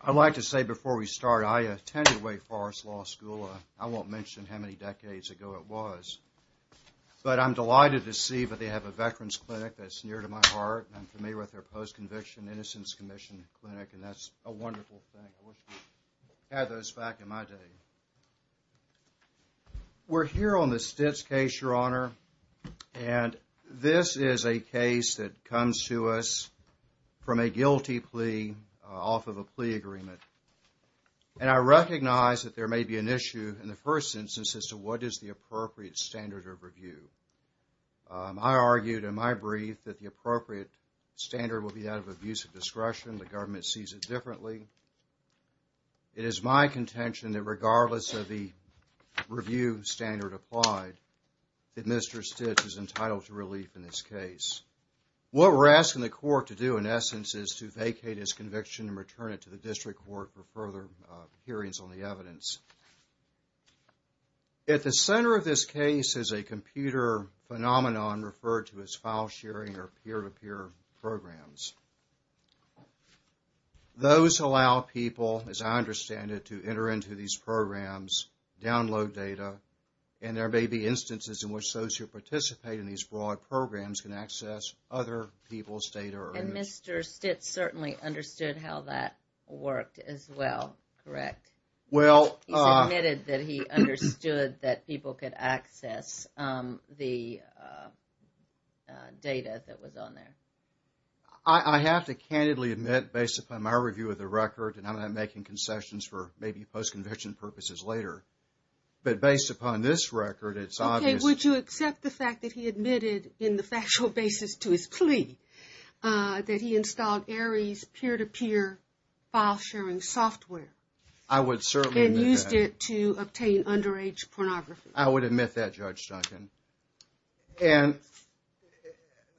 I'd like to say before we start, I attended Wake Forest Law School. I won't mention how many decades ago it was, but I'm delighted to see that they have a veterans clinic that's near to my heart. I'm familiar with their post-conviction innocence commission clinic, and that's a wonderful thing. I wish we had those back in my day. We're here on the Stitz case, Your Honor, and this is a case that comes to us from a guilty plea off of a plea agreement, and I recognize that there may be an issue in the first instance as to what is the appropriate standard of review. I argued in my brief that the appropriate standard will be that of abuse of discretion. The government sees it differently. It is my contention that regardless of the review standard applied, that Mr. Stitz is entitled to return it to the district court for further hearings on the evidence. At the center of this case is a computer phenomenon referred to as file sharing or peer-to-peer programs. Those allow people, as I understand it, to enter into these programs, download data, and there may be instances in which those who participate in these broad programs can access other people's data. And Mr. Stitz certainly understood how that worked as well, correct? He admitted that he understood that people could access the data that was on there. I have to candidly admit, based upon my review of the record, and I'm not making concessions for maybe post-conviction purposes later, but based upon this record, it's obvious... Okay, would you accept the fact that he admitted in the factual basis to his plea that he installed ARIES peer-to-peer file sharing software? I would certainly admit that. And used it to obtain underage pornography? I would admit that, Judge Duncan. And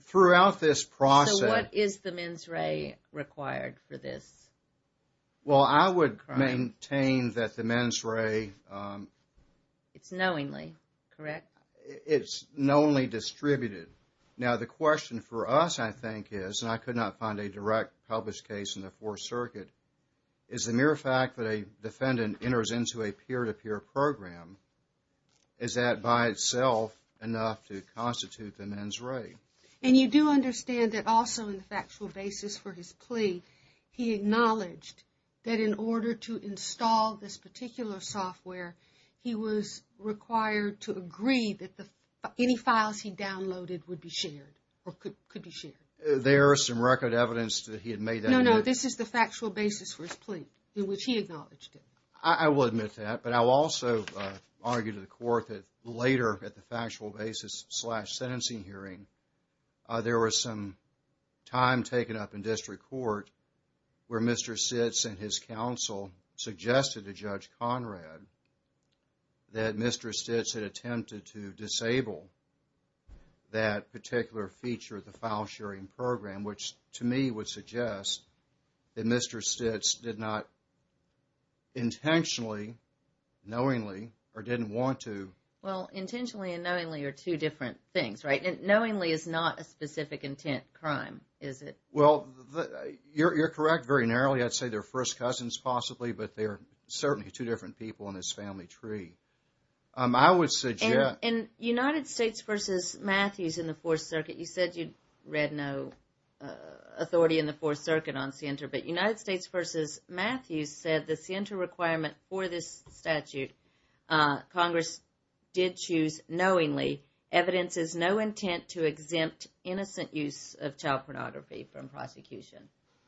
throughout this process... So what is the mens rea required for this? Well, I would maintain that the mens re... It's knowingly, correct? It's knowingly distributed. Now, the question for us, I think, is, and I could not find a direct published case in the Fourth Circuit, is the mere fact that a defendant enters into a peer-to-peer program, is that by itself enough to constitute the mens re? And you do understand that also in the factual basis for his plea, he acknowledged that in order to install this particular software, he was required to agree that any files he downloaded would be shared or could be shared. There is some record evidence that he had made that... No, no, this is the factual basis for his plea in which he acknowledged it. I will admit that, but I will also argue to the court that later at the factual basis slash sentencing hearing, there was some time taken up in district court where Mr. Sitz and his counsel suggested to Judge Conrad that Mr. Sitz had attempted to disable that particular feature of the file sharing program, which to me would suggest that Mr. Sitz did not intentionally, knowingly, or didn't want to... Well, intentionally and knowingly are two different things, right? And knowingly is not a specific intent crime, is it? Well, you're correct very narrowly. I'd say they're first cousins possibly, but they're certainly two different people in this family tree. I would suggest... And United States versus Matthews in the Fourth Circuit, you said you'd read no authority in the Fourth Circuit on SIENTA, but United States versus Matthews said the SIENTA requirement for this statute, Congress did choose knowingly, evidence is no intent to exempt innocent use of child pornography from prosecution.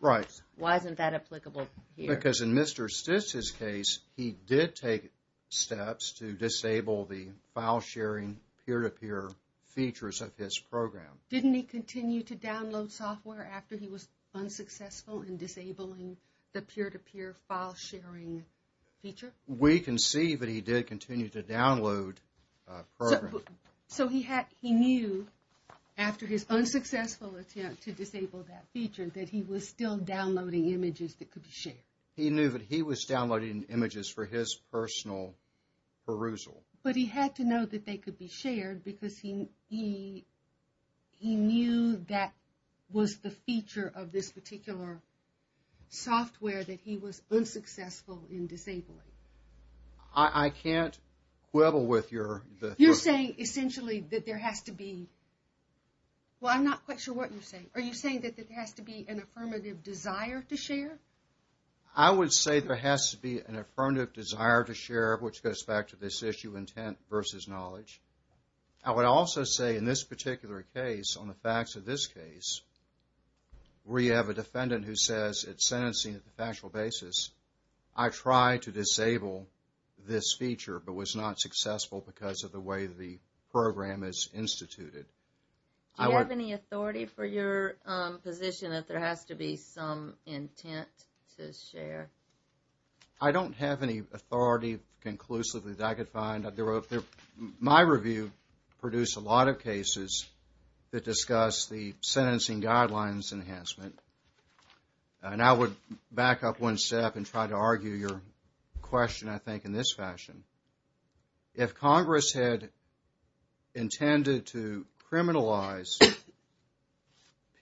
Right. Why isn't that applicable here? Because in Mr. Sitz's case, he did take steps to disable the file sharing peer-to-peer features of his program. Didn't he continue to download software after he was unsuccessful in disabling the peer-to-peer file sharing feature? We can see that he did continue to download programs. So he knew after his unsuccessful attempt to disable that feature that he was still downloading images that could be shared. He knew that he was downloading images for his personal perusal. But he had to know that they could be shared because he knew that was the feature of this particular software that he was unsuccessful in disabling. I can't quibble with your- You're saying essentially that there has to be, well, I'm not quite sure what you're saying. Are you saying that there has to be an affirmative desire to share? I would say there has to be an affirmative desire to share, which goes back to this issue of intent versus knowledge. I would also say in this particular case, on the facts of this case, where you have a defendant who says it's sentencing on a factual basis, I tried to disable this feature but was not successful because of the way the program is instituted. Do you have any authority for your position that there has to be some intent to share? I don't have any authority conclusively that I could find. My review produced a lot of cases that discuss the sentencing guidelines enhancement, and I would back up one step and try to argue your question, I think, in this fashion. If Congress had intended to criminalize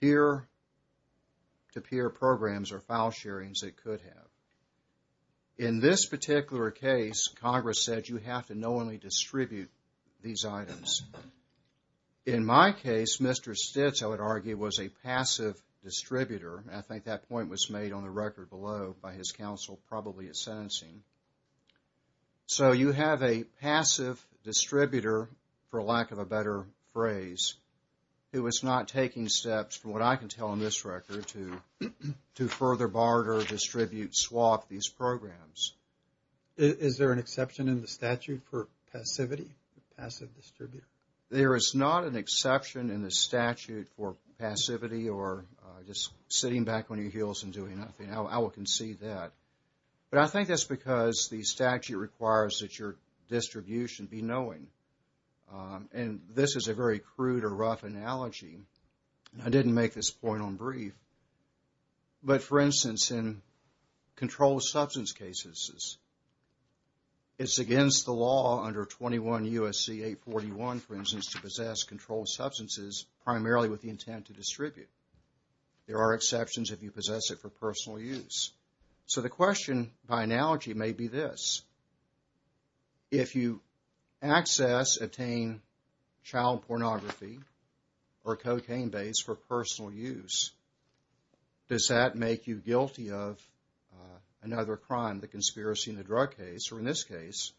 peer-to-peer programs or file sharings, it could have. In this particular case, Congress said you have to knowingly distribute these items. In my case, Mr. Stitz, I would argue, was a passive distributor. I think that point was made on the record below by his counsel, probably at sentencing. So you have a passive distributor, for lack of a better phrase, who is not taking steps, from what I can tell in this record, to further barter, distribute, swap these programs. Is there an exception in the statute for passivity, passive distributor? There is not an exception in the statute for passivity or just sitting back on your heels and doing nothing. I will concede that. But I think that's because the statute requires that your distribution be knowing. And this is a very crude or rough analogy. I didn't make this point on brief. But for instance, in controlled substance cases, it's against the law under 21 U.S.C. 841, for instance, to possess controlled substances primarily with the intent to distribute. There are exceptions if you possess it for personal use. So the question by analogy may be this. If you access, attain child pornography or cocaine base for personal use, does that make you guilty of another crime, the conspiracy in the drug case, or in this case,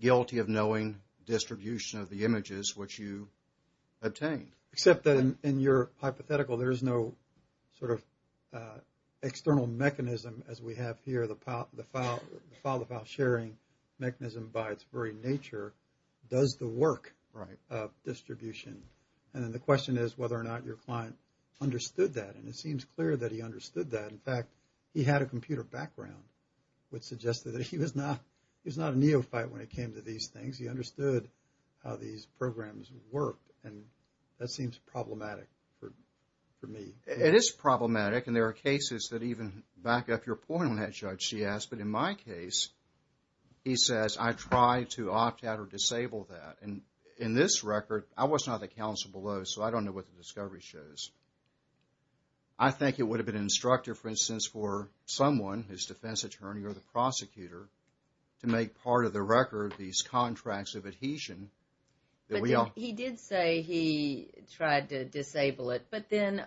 guilty of knowing distribution of the images which you obtained? Except that in your hypothetical, there is no sort of external mechanism, as we have here, the file-to-file sharing mechanism by its very nature does the work of distribution. And then the question is whether or not your client understood that. And it seems clear that he understood that. In fact, he had a computer background which suggested that he was not a neophyte when it came to these things. He understood how these programs work. And that seems problematic for me. It is problematic. And there are cases that even back up your point on that, Judge, she asked. But in my case, he says, I tried to opt out or disable that. And in this record, I was not the counsel below, so I don't know what the discovery shows. I think it would have been instructive, for instance, for someone, his defense attorney or the prosecutor, to make part of the record these contracts of adhesion. But he did say he tried to disable it. But then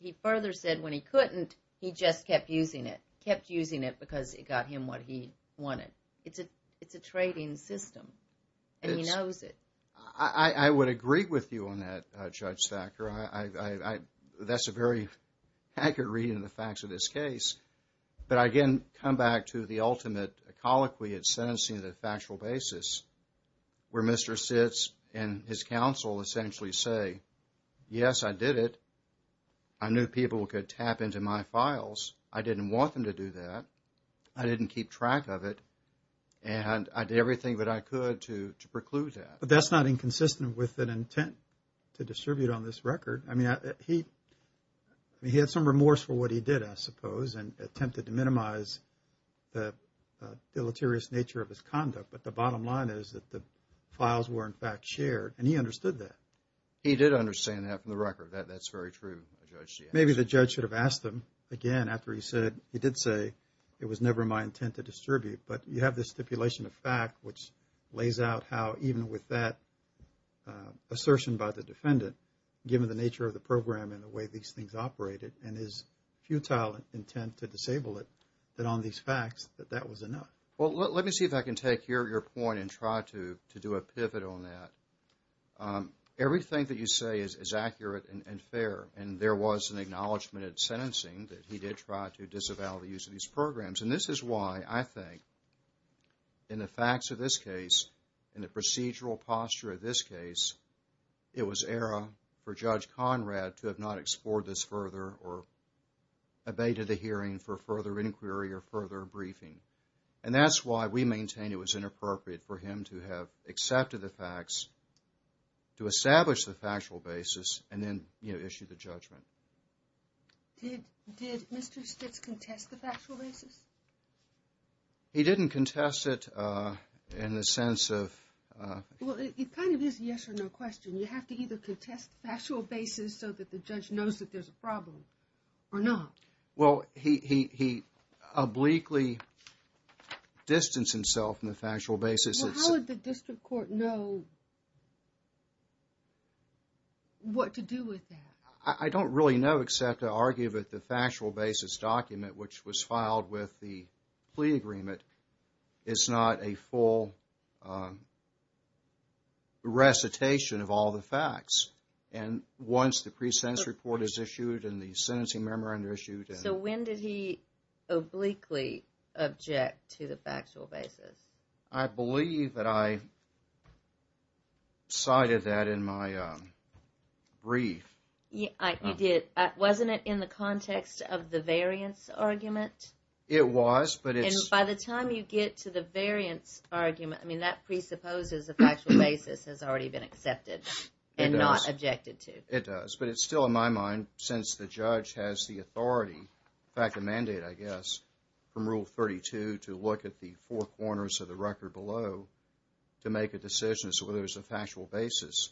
he further said when he couldn't, he just kept using it. Kept using it because it got him what he wanted. It's a trading system. And he knows it. I would agree with you on that, Judge Thacker. That's a very accurate reading of the facts of this case. But again, come back to the ultimate colloquy, it's sentencing on a factual basis, where Mr. Sitz and his counsel essentially say, yes, I did it. I knew people could tap into my files. I didn't want them to do that. I didn't keep track of it. And I did everything that I could to preclude that. But that's not inconsistent with an intent to distribute on this record. I mean, he had some remorse for what he did, I suppose, and attempted to minimize the deleterious nature of his conduct. But the bottom line is that the files were, in fact, shared. And he understood that. He did understand that from the record. That's very true, Judge. Maybe the judge should have asked him, again, after he said, he did say, it was never my intent to distribute. But you have this stipulation of fact, which lays out how even with that assertion by the defendant, given the nature of the program and the way these things operated, and his futile intent to disable it, that on these facts, that that was enough. Well, let me see if I can take your point and try to do a pivot on that. Everything that you say is accurate and fair. And there was an acknowledgement at sentencing that he did try to disavow the use of these programs. And this is why I think, in the facts of this case, in the procedural posture of this case, it was error for Judge Conrad to have not explored this further or abated the hearing for further inquiry or further briefing. And that's why we maintain it was inappropriate for him to have accepted the facts, to establish the factual basis, and then issue the judgment. Did Mr. Stitz contest the factual basis? He didn't contest it in the sense of... Well, it kind of is a yes or no question. You have to either contest the factual basis so that the judge knows that there's a problem or not. Well, he obliquely distanced himself from the factual basis. Well, how would the district court know what to do with that? I don't really know except to argue that the factual basis document, which was filed with the plea agreement, is not a full recitation of all the facts. And once the pre-sentence report is issued and the sentencing memorandum issued... So when did he obliquely object to the factual basis? I believe that I cited that in my brief. Wasn't it in the context of the variance argument? It was, but it's... And by the time you get to the variance argument, I mean, that presupposes a factual basis has already been accepted and not objected to. It does, but it's still, in my mind, since the judge has the authority, in fact, the mandate, I guess, from Rule 32 to look at the four corners of the record below to make a decision as to whether there's a factual basis,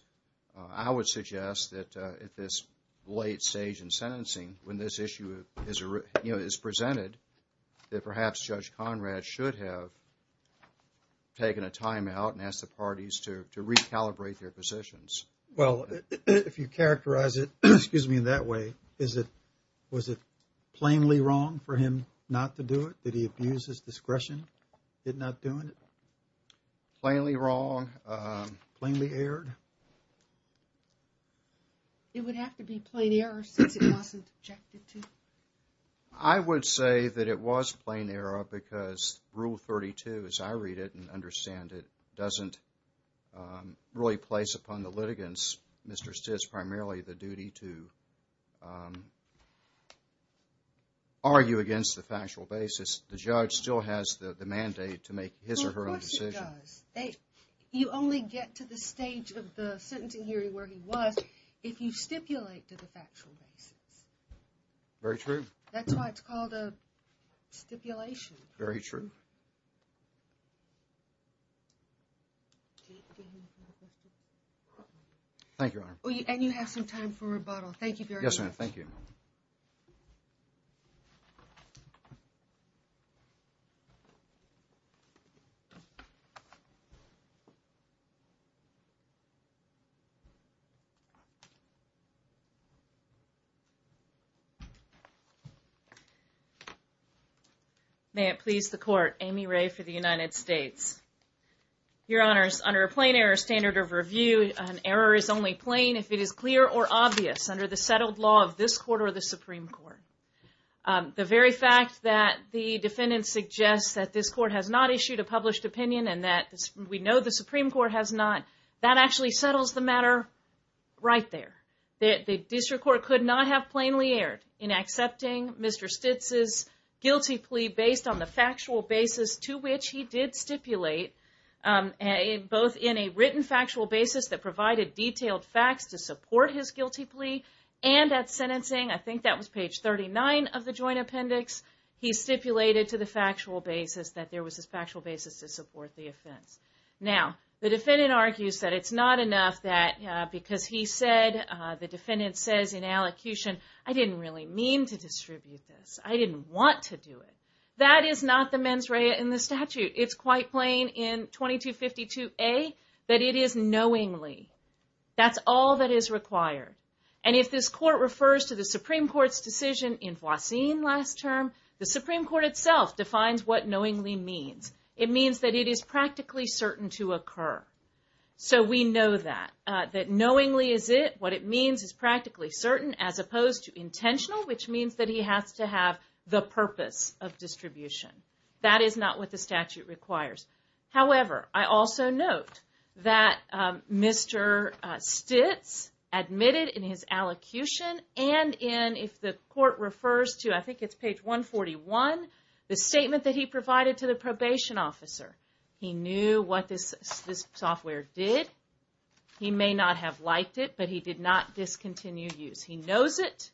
I would suggest that at this late stage in sentencing, when this issue is presented, that perhaps Judge Conrad should have taken a time out and asked the parties to recalibrate their positions. Well, if you characterize it, excuse me, in that way, was it plainly wrong for him not to do it? Did he abuse his discretion in not doing it? Plainly wrong. Plainly erred. It would have to be plain error since it wasn't objected to. I would say that it was plain error because Rule 32, as I read it and understand it, doesn't really place upon the litigants, Mr. Stitt's primarily the duty to argue against the factual basis. The judge still has the mandate to make his or her own decision. Well, of course he does. You only get to the stage of the sentencing hearing where he was if you stipulate to the factual basis. Very true. That's why it's called a stipulation. Very true. Thank you, Your Honor. And you have some time for rebuttal. Thank you very much. Yes, ma'am. Thank you. May it please the Court, Amy Ray for the United States. Your Honor, under a plain error standard of review, an error is only plain if it is clear or obvious under the settled law of this Court or the Supreme Court. The very fact that the defendant suggests that this Court has not issued a published opinion and that we know the Supreme Court has not, that actually settles the matter right there. The District Court could not have plainly erred in accepting Mr. Stitt's guilty plea based on the factual basis to which he did stipulate, both in a written factual basis that provided detailed facts to support his guilty plea and at sentencing, I think that was page 39 of the Joint Appendix, he stipulated to the factual basis that there was a factual basis to support the offense. Now, the defendant argues that it's not enough that because he said, the defendant says in allocution, I didn't really mean to distribute this. I didn't want to do it. That is not the mens rea in the statute. It's quite plain in 2252A that it is knowingly. That's all that is required. And if this Court refers to the Supreme Court's decision in Voisin last term, the Supreme Court itself defines what knowingly means. It means that it is practically certain to occur. So we know that, that knowingly is it, what it means is practically certain as opposed to intentional, which means that he has to have the purpose of distribution. That is not what the statute requires. However, I also note that Mr. Stitz admitted in his allocution and in, if the Court refers to, I think it's page 141, the statement that he provided to the probation officer. He knew what this software did. He may not have liked it, but he did not discontinue use. He knows it,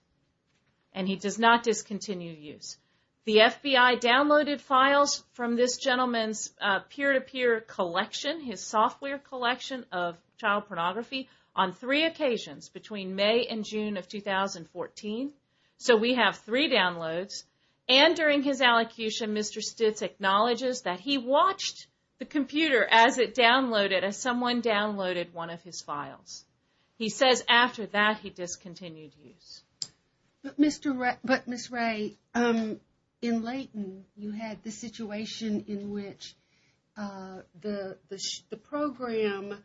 and he does not discontinue use. The FBI downloaded files from this gentleman's peer-to-peer collection, his software collection of child pornography, on three occasions between May and June of 2014. So we have three downloads. And during his allocution, Mr. Stitz acknowledges that he watched the computer as it downloaded, as someone downloaded one of his files. He says after that, he discontinued use. But, Ms. Ray, in Leighton, you had the situation in which the program,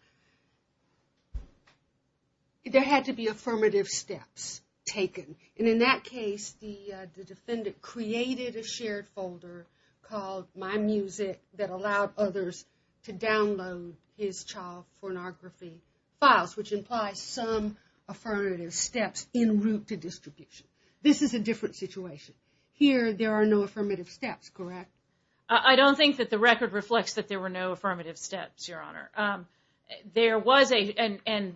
there had to be affirmative steps taken. And in that case, the defendant created a shared folder called MyMusic that allowed others to download his child pornography files, which implies some affirmative steps in route to distribution. This is a different situation. Here, there are no affirmative steps, correct? Ms. Ray, I don't think that the record reflects that there were no affirmative steps, Your Honor. There was a, and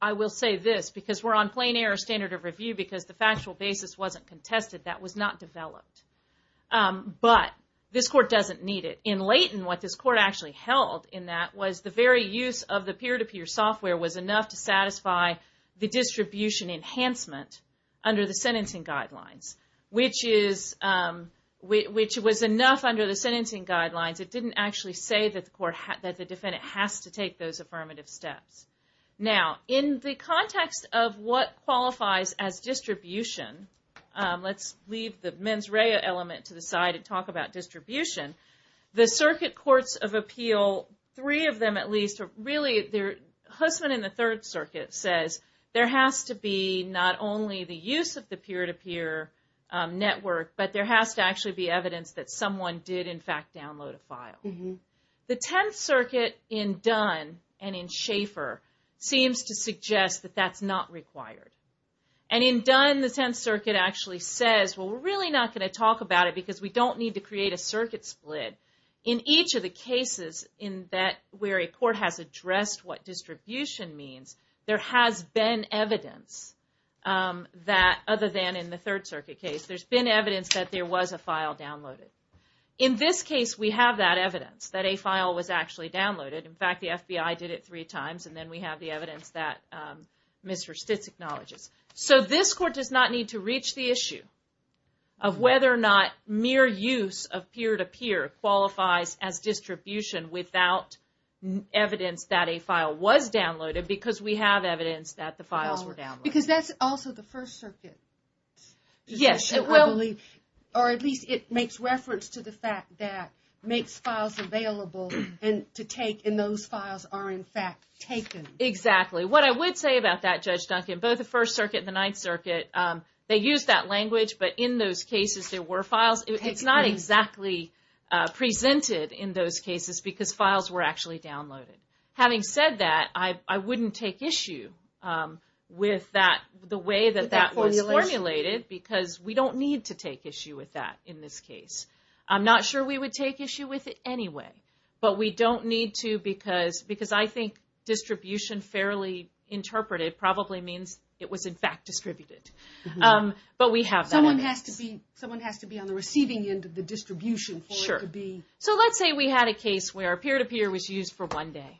I will say this, because we're on plain air standard of review, because the factual basis wasn't contested. That was not developed. But this Court doesn't need it. In Leighton, what this Court actually held in that was the very use of the peer-to-peer software was enough to satisfy the distribution enhancement under the sentencing guidelines, which was enough under the sentencing guidelines. It didn't actually say that the defendant has to take those affirmative steps. Now, in the context of what qualifies as distribution, let's leave the Ms. Ray element to the side and talk about distribution. The Circuit Courts of Appeal, three of them, at least, really, their husband in the Third Circuit says there has to be not only the use of the peer-to-peer network, but there has to actually be evidence that someone did, in fact, download a file. The Tenth Circuit in Dunn and in Schaefer seems to suggest that that's not required. And in Dunn, the Tenth Circuit actually says, well, we're really not going to talk about it because we don't need to create a circuit split. In each of the cases where a court has addressed what distribution means, there has been evidence that, other than in the Third Circuit case, there's been evidence that there was a file downloaded. In this case, we have that evidence that a file was actually downloaded. In fact, the FBI did it three times and then we have the evidence that Mr. Stitz acknowledges. So this court does not need to reach the issue of whether or not mere use of peer-to-peer qualifies as distribution without evidence that a file was downloaded because we have evidence that the files were downloaded. Because that's also the First Circuit. Yes, it will. Or at least it makes reference to the fact that it makes files available to take and those files are, in fact, taken. Exactly. What I would say about that, Judge Duncan, both the First Circuit and the Ninth Circuit, they use that language, but in those cases, there were files. It's not exactly presented in those cases because files were actually downloaded. Having said that, I wouldn't take issue with the way that that was formulated because we don't need to take issue with that in this case. I'm not sure we would take issue with it anyway, but we don't need to because I think distribution fairly interpreted probably means it was, in fact, distributed. But we have that evidence. Someone has to be on the receiving end of the distribution for it to be... Sure. So let's say we had a case where peer-to-peer was used for one day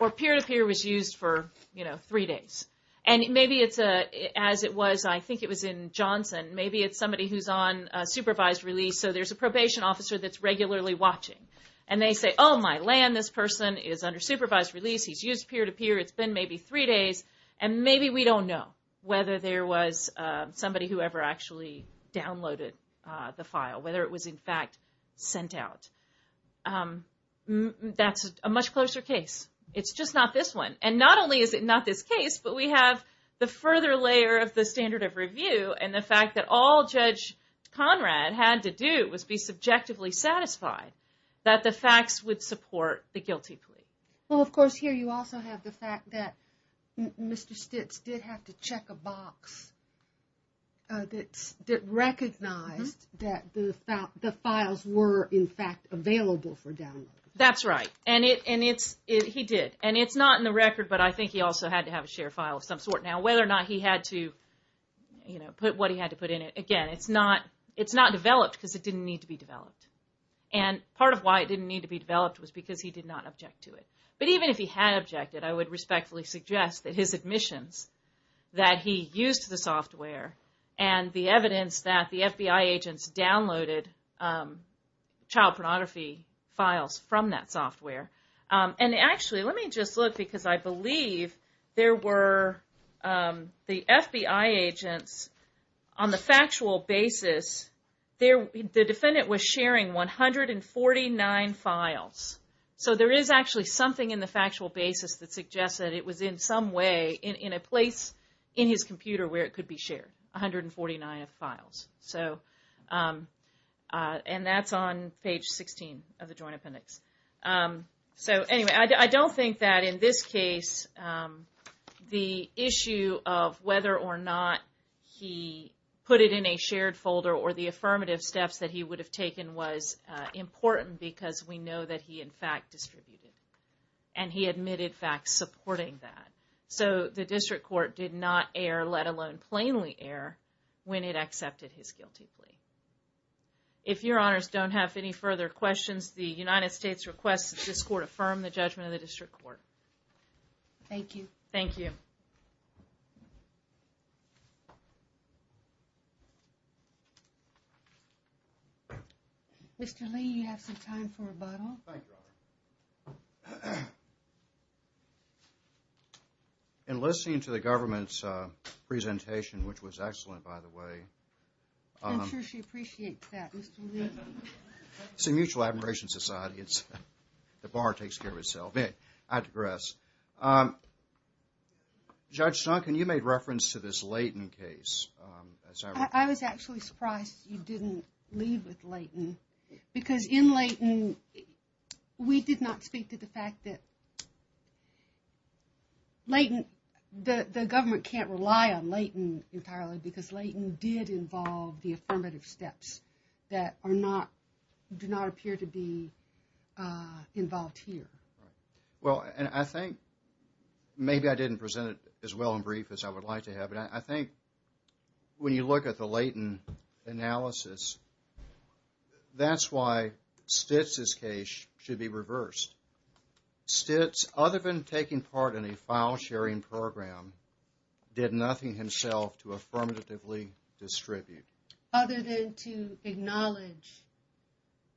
or peer-to-peer was used for, you know, three days. And maybe it's a, as it was, I think it was in Johnson, maybe it's somebody who's on supervised release. So there's a probation officer that's regularly watching and they say, oh my land, this person is under supervised release. He's used peer-to-peer. It's been maybe three days. And maybe we don't know whether there was somebody who ever actually downloaded the file, whether it was, in fact, sent out. That's a much closer case. It's just not this one. And not only is it not this case, but we have the further layer of the standard of review and the fact that all Judge Conrad had to do was be subjectively satisfied that the facts would support the guilty plea. Well, of course, here you also have the fact that Mr. Stitz did have to check a box that recognized that the files were, in fact, available for download. That's right. He did. And it's not in the record, but I think he also had to have a share file of some sort. Now, whether or not he had to, you know, put what he had to put in it, again, it's not developed because it didn't need to be developed. And part of why it didn't need to be developed was because he did not object to it. But even if he had objected, I would respectfully suggest that his admissions, that he used the software and the evidence that the FBI agents downloaded child pornography files from that software. And actually, let me just look, because I believe there were the FBI agents on the factual basis, the defendant was sharing 149 files. So, there is actually something in the factual basis that suggests that it was in some way in a place in his computer where it could be shared, 149 files. So, and that's on page 16 of the Joint Appendix. So, anyway, I don't think that in this case, the issue of whether or not he put it in a shared folder or the affirmative steps that he would have taken was important because we know that he, in fact, distributed. And he admitted, in fact, supporting that. So, the District Court did not err, let alone plainly err, when it accepted his guilty plea. If your honors don't have any further questions, the United States requests that this court affirm the judgment of the District Court. Thank you. Thank you. Mr. Lee, you have some time for rebuttal. Thank you, Your Honor. In listening to the government's presentation, which was excellent, by the way. I'm sure she was. She appreciates that, Mr. Lee. It's a mutual admiration society. The bar takes care of itself. I digress. Judge Duncan, you made reference to this Leighton case. I was actually surprised you didn't leave with Leighton because in Leighton, we did not speak to the fact that Leighton, the government can't rely on Leighton entirely because Leighton did involve the affirmative steps that do not appear to be involved here. Well, and I think, maybe I didn't present it as well and brief as I would like to have, but I think when you look at the Leighton analysis, that's why Stitz's case should be reversed. Stitz, other than taking part in a file sharing program, did nothing himself to affirmatively distribute. Other than to acknowledge.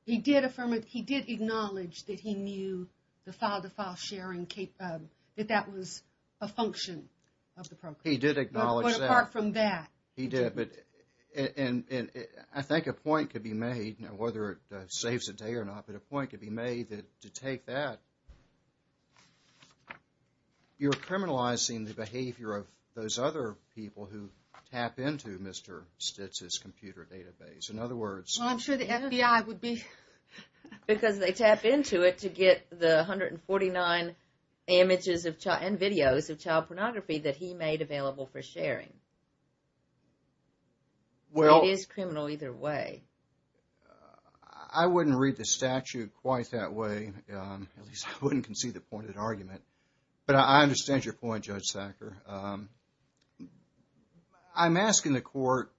He did affirm it. He did acknowledge that he knew the file-to-file sharing, that that was a function of the program. He did acknowledge that. But apart from that. He did, but I think a point could be made, whether it saves a day or not, but a point could be made that to take that, you're criminalizing the behavior of those other people who tap into Mr. Stitz's computer database. In other words. Well, I'm sure the FBI would be. Because they tap into it to get the 149 images and videos of child pornography that he made available for sharing. Well. It is criminal either way. I wouldn't read the statute quite that way. At least, I wouldn't concede the pointed argument, but I understand your point, Judge Sacker. I'm asking the court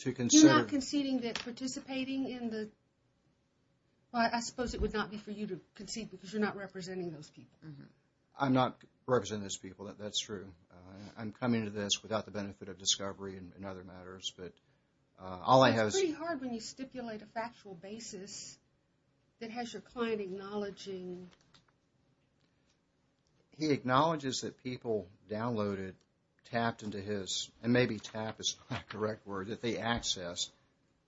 to consider. You're not conceding that participating in the. Well, I suppose it would not be for you to concede because you're not representing those people. I'm not representing those people. That's true. I'm coming to this without the benefit of discovery and other matters, but all I have. It's pretty hard when you stipulate a factual basis that has your client acknowledging. He acknowledges that people downloaded, tapped into his and maybe tap is the correct word that they access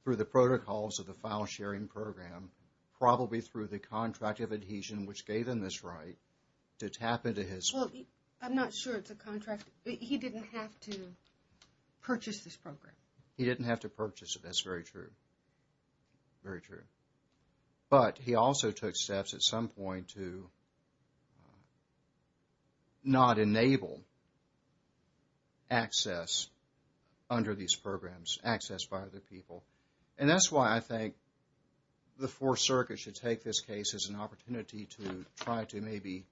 through the protocols of the file sharing program, probably through the contract of adhesion, which gave him this right to tap into his. Well, I'm not sure it's a contract. He didn't have to purchase this program. He didn't have to purchase it. That's very true. Very true. But he also took steps at some point to. Not enable. Access. Under these programs, access by other people, and that's why I think. The 4th Circuit should take this case as an opportunity to try to maybe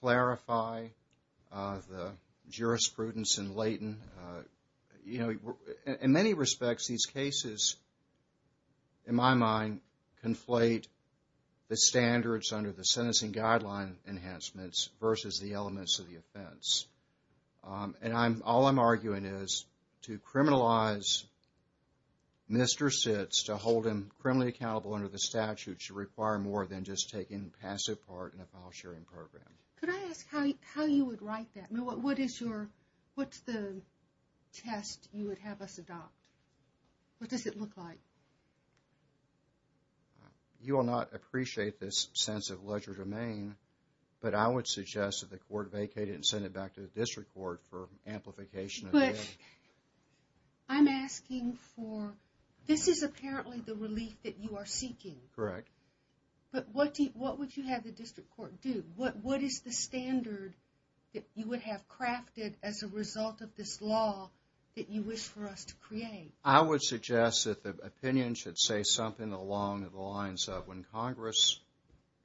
clarify the jurisprudence and latent, you know, in many respects, these cases. In my mind, conflate the standards under the sentencing guideline enhancements versus the elements of the offense. And I'm all I'm arguing is to criminalize. Mr. Sitz to hold him criminally accountable under the statute should require more than just taking passive part in a file sharing program. Could I ask how you would write that? What is your what's the test you would have us adopt? What does it look like? You will not appreciate this sense of ledger domain, but I would suggest that the court vacated and send it back to the district court for amplification. I'm asking for this is apparently the relief that you are seeking, correct? But what do you what would you have the district court do? What what is the standard that you would have crafted as a result of this law that you wish for us to create? I would suggest that the opinion should say something along the lines of when Congress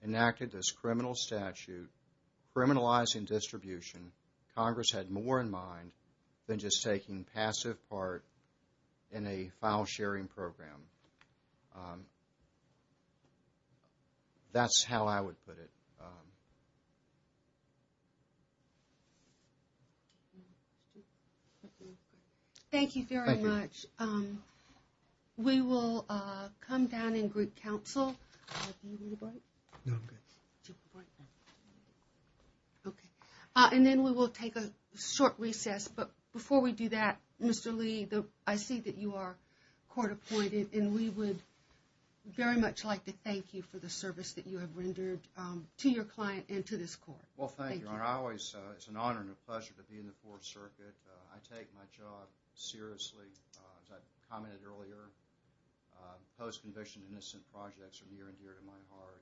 enacted this criminal statute, criminalizing distribution, Congress had more in mind than just taking passive part in a file sharing program. That's how I would put it. Thank you very much. We will come down and greet counsel. OK, and then we will take a short recess. But before we do that, Mr. Lee, I see that you are court appointed and we would very much like to thank you for the service that you have rendered to your client and to this court. Well, thank you. And I always it's an honor and a pleasure to be in the Fourth Circuit. I take my job seriously, as I commented earlier, post-conviction innocent projects are near and dear to my heart.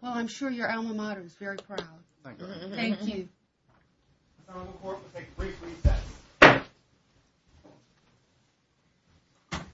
Well, I'm sure your alma mater is very proud. Thank you.